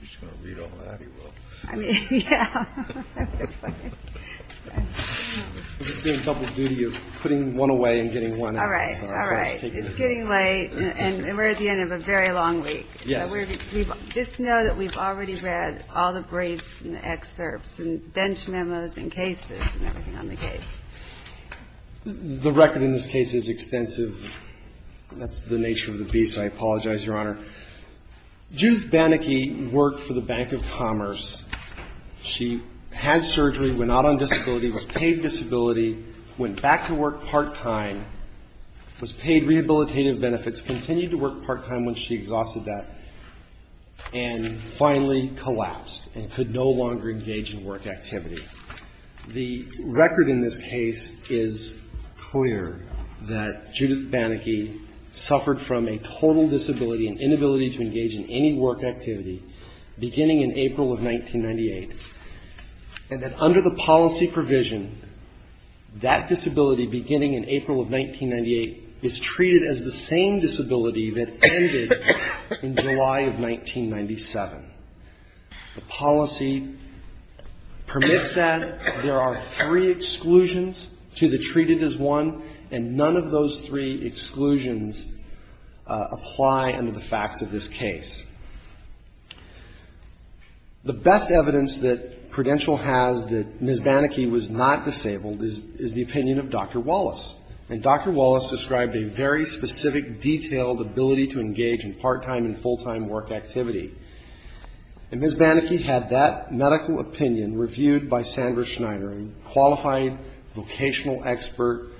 BANACKY v. PRUDENTIAL BANACKY v. PRUDENTIAL The record in this case is clear that Judith Banacky suffered from a total disability, an inability to engage in any work activity, beginning in April of 1998. And that under the policy provision, that disability beginning in April of 1998 is treated as the same disability that ended in July of 1997. The policy permits that there are three exclusions to the treated as one, and none of those three exclusions apply under the facts of this case. The best evidence that Prudential has that Ms. Banacky was not disabled is the opinion of Dr. Wallace. And Dr. Wallace described a very specific, detailed ability to engage in part-time and full-time work activity. And Ms. Banacky had that medical opinion reviewed by Sandra Schneider, a qualified vocational expert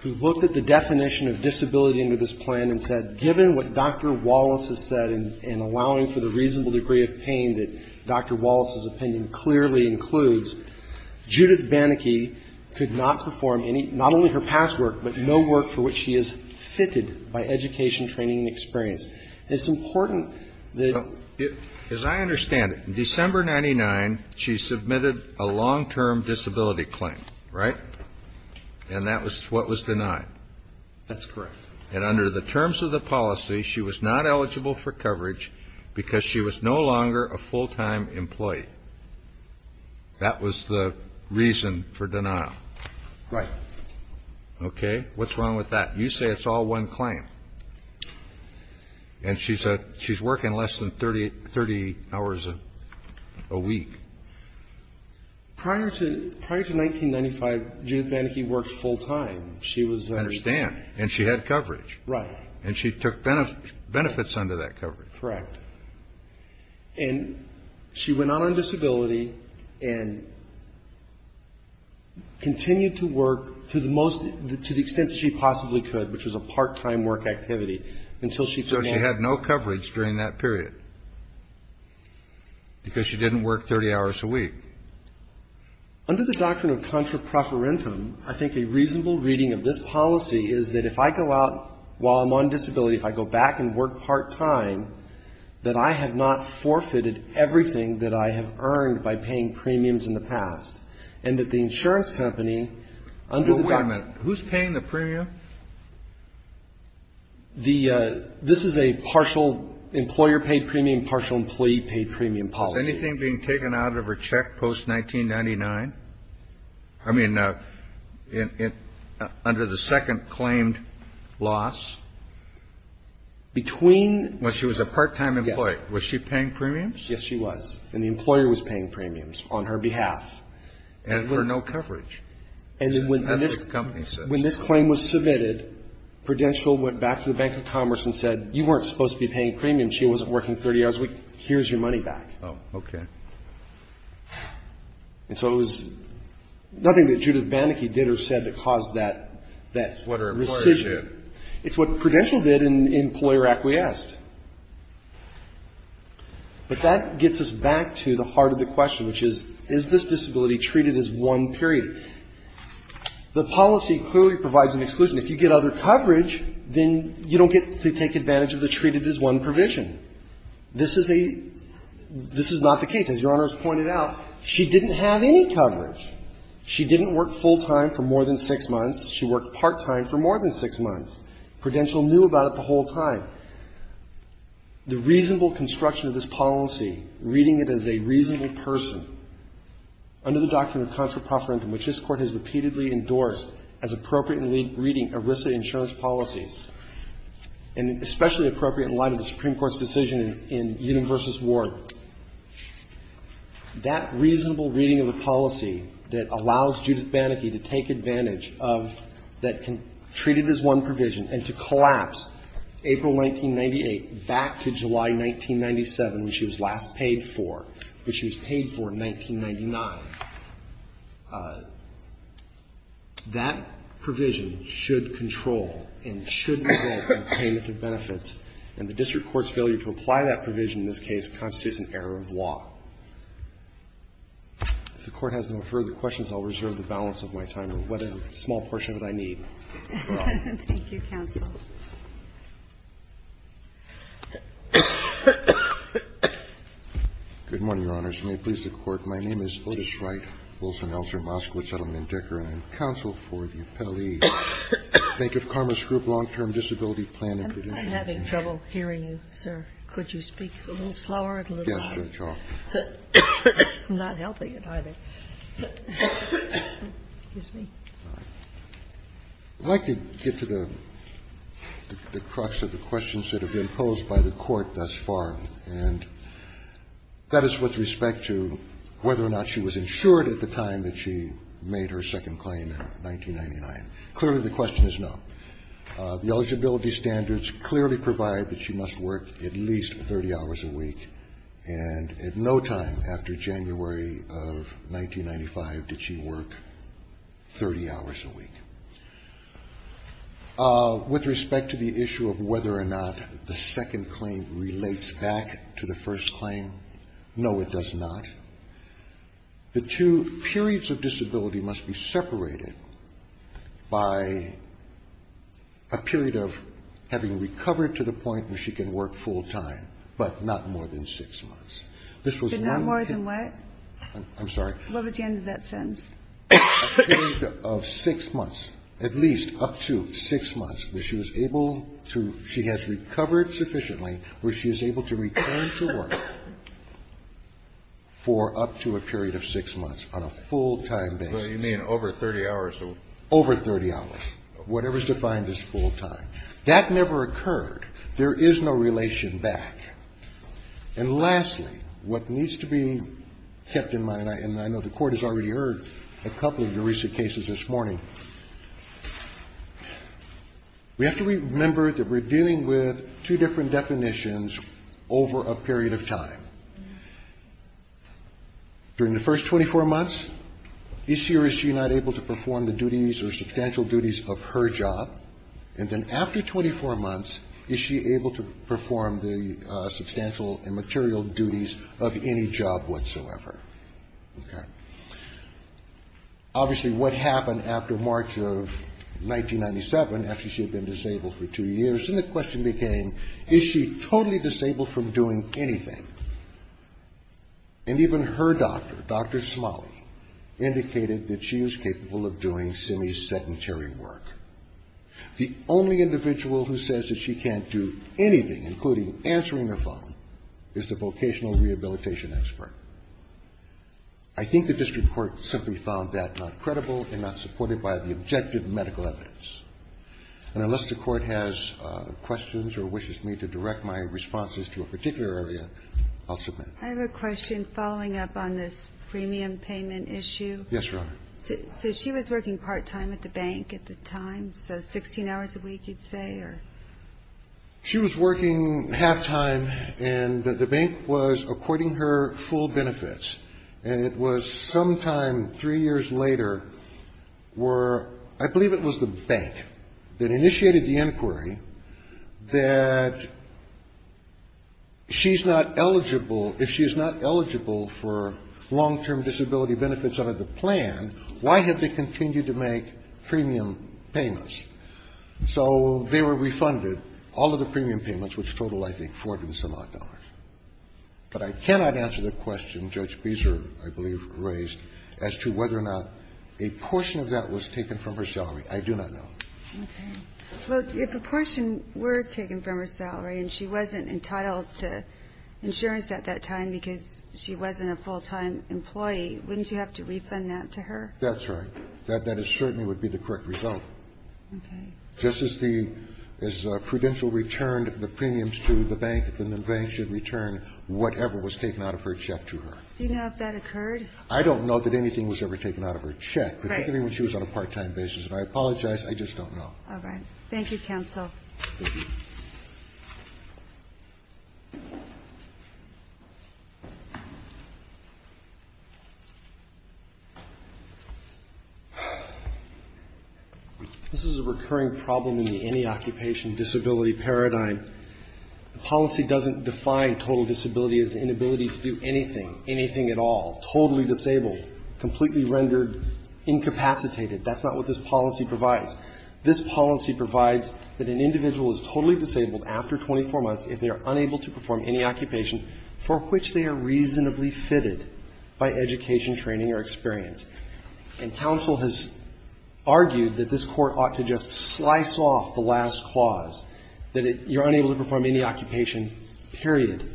who looked at the definition of disability under this plan and said, given what Dr. Wallace has said in allowing for the reasonable degree of pain that Dr. Wallace's opinion clearly includes, Judith Banacky could not perform any, not only her past work, but no work for which she is fitted by education, training, and experience. It's important that the ---- submitted a long-term disability claim, right? And that was what was denied. That's correct. And under the terms of the policy, she was not eligible for coverage because she was no longer a full-time employee. That was the reason for denial. Right. Okay. What's wrong with that? You say it's all one claim. And she's working less than 30 hours a week. Prior to 1995, Judith Banacky worked full-time. She was a ---- I understand. And she had coverage. Right. And she took benefits under that coverage. Correct. And she went out on disability and continued to work to the most ---- to the extent that she possibly could, which was a part-time work activity, until she ---- So she had no coverage during that period because she didn't work 30 hours a week. Under the doctrine of contra preferentum, I think a reasonable reading of this policy is that if I go out while I'm on disability, if I go back and work part-time, that I have not forfeited everything that I have earned by paying premiums in the past, and that the insurance company under the ---- So you're saying that this is a partial employer paid premium, partial employee paid premium policy. Is anything being taken out of her check post-1999? I mean, under the second claimed loss? Between ---- When she was a part-time employee. Yes. Was she paying premiums? Yes, she was. And the employer was paying premiums on her behalf. And for no coverage. And when this ---- As the company says. When this claim was submitted, Prudential went back to the Bank of Commerce and said, you weren't supposed to be paying premiums, she wasn't working 30 hours a week, here's your money back. Oh, okay. And so it was nothing that Judith Banneke did or said that caused that ---- What her employer did. It's what Prudential did and the employer acquiesced. But that gets us back to the heart of the question, which is, is this disability treated as one period? The policy clearly provides an exclusion. If you get other coverage, then you don't get to take advantage of the treated as one provision. This is a ---- this is not the case. As Your Honor has pointed out, she didn't have any coverage. She didn't work full-time for more than six months. She worked part-time for more than six months. Prudential knew about it the reasonable construction of this policy, reading it as a reasonable person, under the Doctrine of Contra Proferendum, which this Court has repeatedly endorsed as appropriate in reading ERISA insurance policies, and especially appropriate in light of the Supreme Court's decision in Universus Ward, that reasonable reading of the policy that allows Judith Banneke to take advantage of that can treat it as one provision and to collapse April 1998 back to July 1997, when she was last paid for, but she was paid for in 1999. That provision should control and should result in payment of benefits. And the district court's failure to apply that provision in this case constitutes an error of law. If the Court has no further questions, I'll reserve the balance of my time or whatever small portion that I need. Thank you. Thank you, counsel. Good morning, Your Honors. May it please the Court, my name is Otis Wright, Wilson Elser, Moskowitz Settlement Decker. I am counsel for the appellee, Bank of Commerce Group, Long-Term Disability Plan and Prudential. I'm having trouble hearing you, sir. Could you speak a little slower? Yes, Your Honor. I'm not helping it, either. I'd like to get to the crux of the questions that have been posed by the Court thus far, and that is with respect to whether or not she was insured at the time that she made her second claim in 1999. Clearly, the question is no. The eligibility standards clearly provide that she must work at least 30 hours a week, and at no time after January of 1995 did she work 30 hours a week. With respect to the issue of whether or not the second claim relates back to the first claim, no, it does not. The two periods of disability must be separated by a period of at least up to six months. So not more than what? I'm sorry? What was the end of that sentence? A period of six months, at least up to six months where she was able to – she has recovered sufficiently where she is able to return to work for up to a period of six months on a full-time basis. You mean over 30 hours? Over 30 hours. Whatever is defined as full time. That never occurred. There is no relation back. And lastly, what needs to be kept in mind, and I know the Court has already heard a couple of your recent cases this morning, we have to remember that we're dealing with two different definitions over a period of time. During the first 24 months, is she or is she not able to perform the duties or substantial duties of her job? And then after 24 months, is she able to perform the substantial and material duties of any job whatsoever? Okay. Obviously, what happened after March of 1997, after she had been disabled for two years, and the question became, is she totally disabled from doing anything? And even her doctor, Dr. Smalley, indicated that she is capable of doing semi-sedentary work. The only individual who says that she can't do anything, including answering her phone, is the vocational rehabilitation expert. I think the district court simply found that not credible and not supported by the objective medical evidence. And unless the Court has questions or wishes me to direct my responses to a particular area, I'll submit. I have a question following up on this premium payment issue. Yes, Your Honor. So she was working part-time at the bank at the time, so 16 hours a week, you'd say, or? She was working half-time, and the bank was according her full benefits. And it was sometime three years later were, I believe it was the bank that initiated the inquiry that she's not eligible, if she is not eligible for long-term disability benefits under the plan, why have they continued to make premium payments? So they were refunded all of the premium payments, which totaled, I think, $400,000. But I cannot answer the question Judge Beezer, I believe, raised as to whether or not a portion of that was taken from her salary. I do not know. Okay. Well, if a portion were taken from her salary and she wasn't entitled to insurance at that time because she wasn't a full-time employee, wouldn't you have to refund that to her? That's right. That certainly would be the correct result. Okay. Just as the prudential returned the premiums to the bank, then the bank should return whatever was taken out of her check to her. Do you know if that occurred? I don't know that anything was ever taken out of her check, particularly when she was on a part-time basis. And I apologize. I just don't know. Thank you, counsel. Thank you. Thank you. This is a recurring problem in the any occupation disability paradigm. The policy doesn't define total disability as the inability to do anything, anything at all, totally disabled, completely rendered, incapacitated. That's not what this policy provides. This policy provides that an individual is totally disabled after 24 months if they are unable to perform any occupation for which they are reasonably fitted by education, training or experience. And counsel has argued that this Court ought to just slice off the last clause, that you're unable to perform any occupation, period.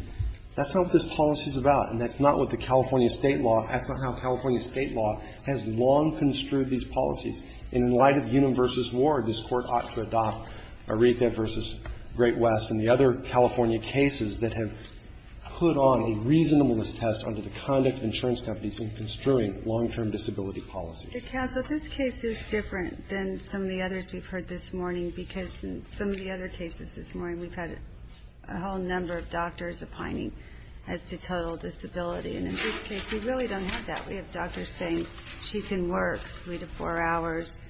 That's not what this policy is about, and that's not what the California State law, that's not how California State law has long construed these policies. And in light of Unum v. Ward, this Court ought to adopt Aretha v. Great West and the other California cases that have put on a reasonableness test under the conduct of insurance companies in construing long-term disability policies. But, counsel, this case is different than some of the others we've heard this morning because in some of the other cases this morning, we've had a whole number of doctors opining as to total disability. And in this case, we really don't have that. We have doctors saying she can work three to four hours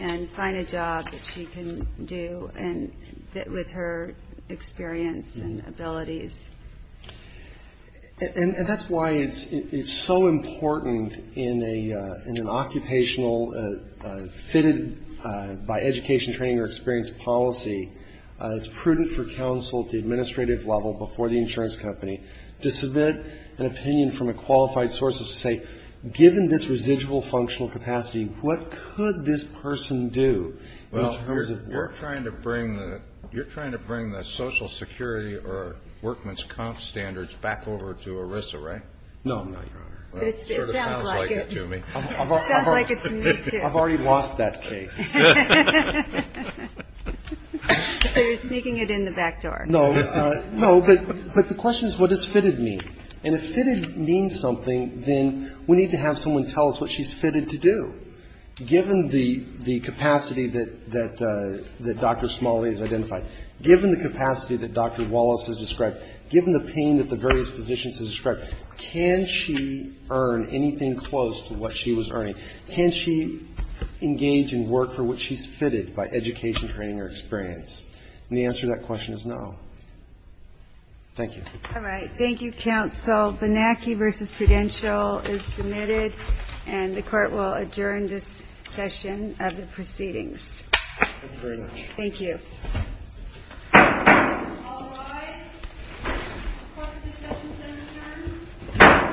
and find a job that she can do with her experience and abilities. And that's why it's so important in an occupational fitted by education, training or experience policy, it's prudent for counsel at the administrative level before the insurance company to submit an opinion from a qualified source of say, given this residual functional capacity, what could this person do in terms of work? Kennedy, you're trying to bring the social security or workman's comp standards back over to ERISA, right? No. It sounds like it to me. It sounds like it to me, too. I've already lost that case. So you're sneaking it in the back door. No, but the question is what does fitted mean? And if fitted means something, then we need to have someone tell us what she's fitted to do. Given the capacity that Dr. Smalley has identified, given the capacity that Dr. Wallace has described, given the pain that the various physicians have described, can she earn anything close to what she was earning? Can she engage and work for what she's fitted by education, training or experience? And the answer to that question is no. Thank you. All right. Thank you, counsel. Benacki v. Prudential is submitted. And the Court will adjourn this session of the proceedings. Thank you very much. Thank you. All rise. The Court of Discussions is adjourned.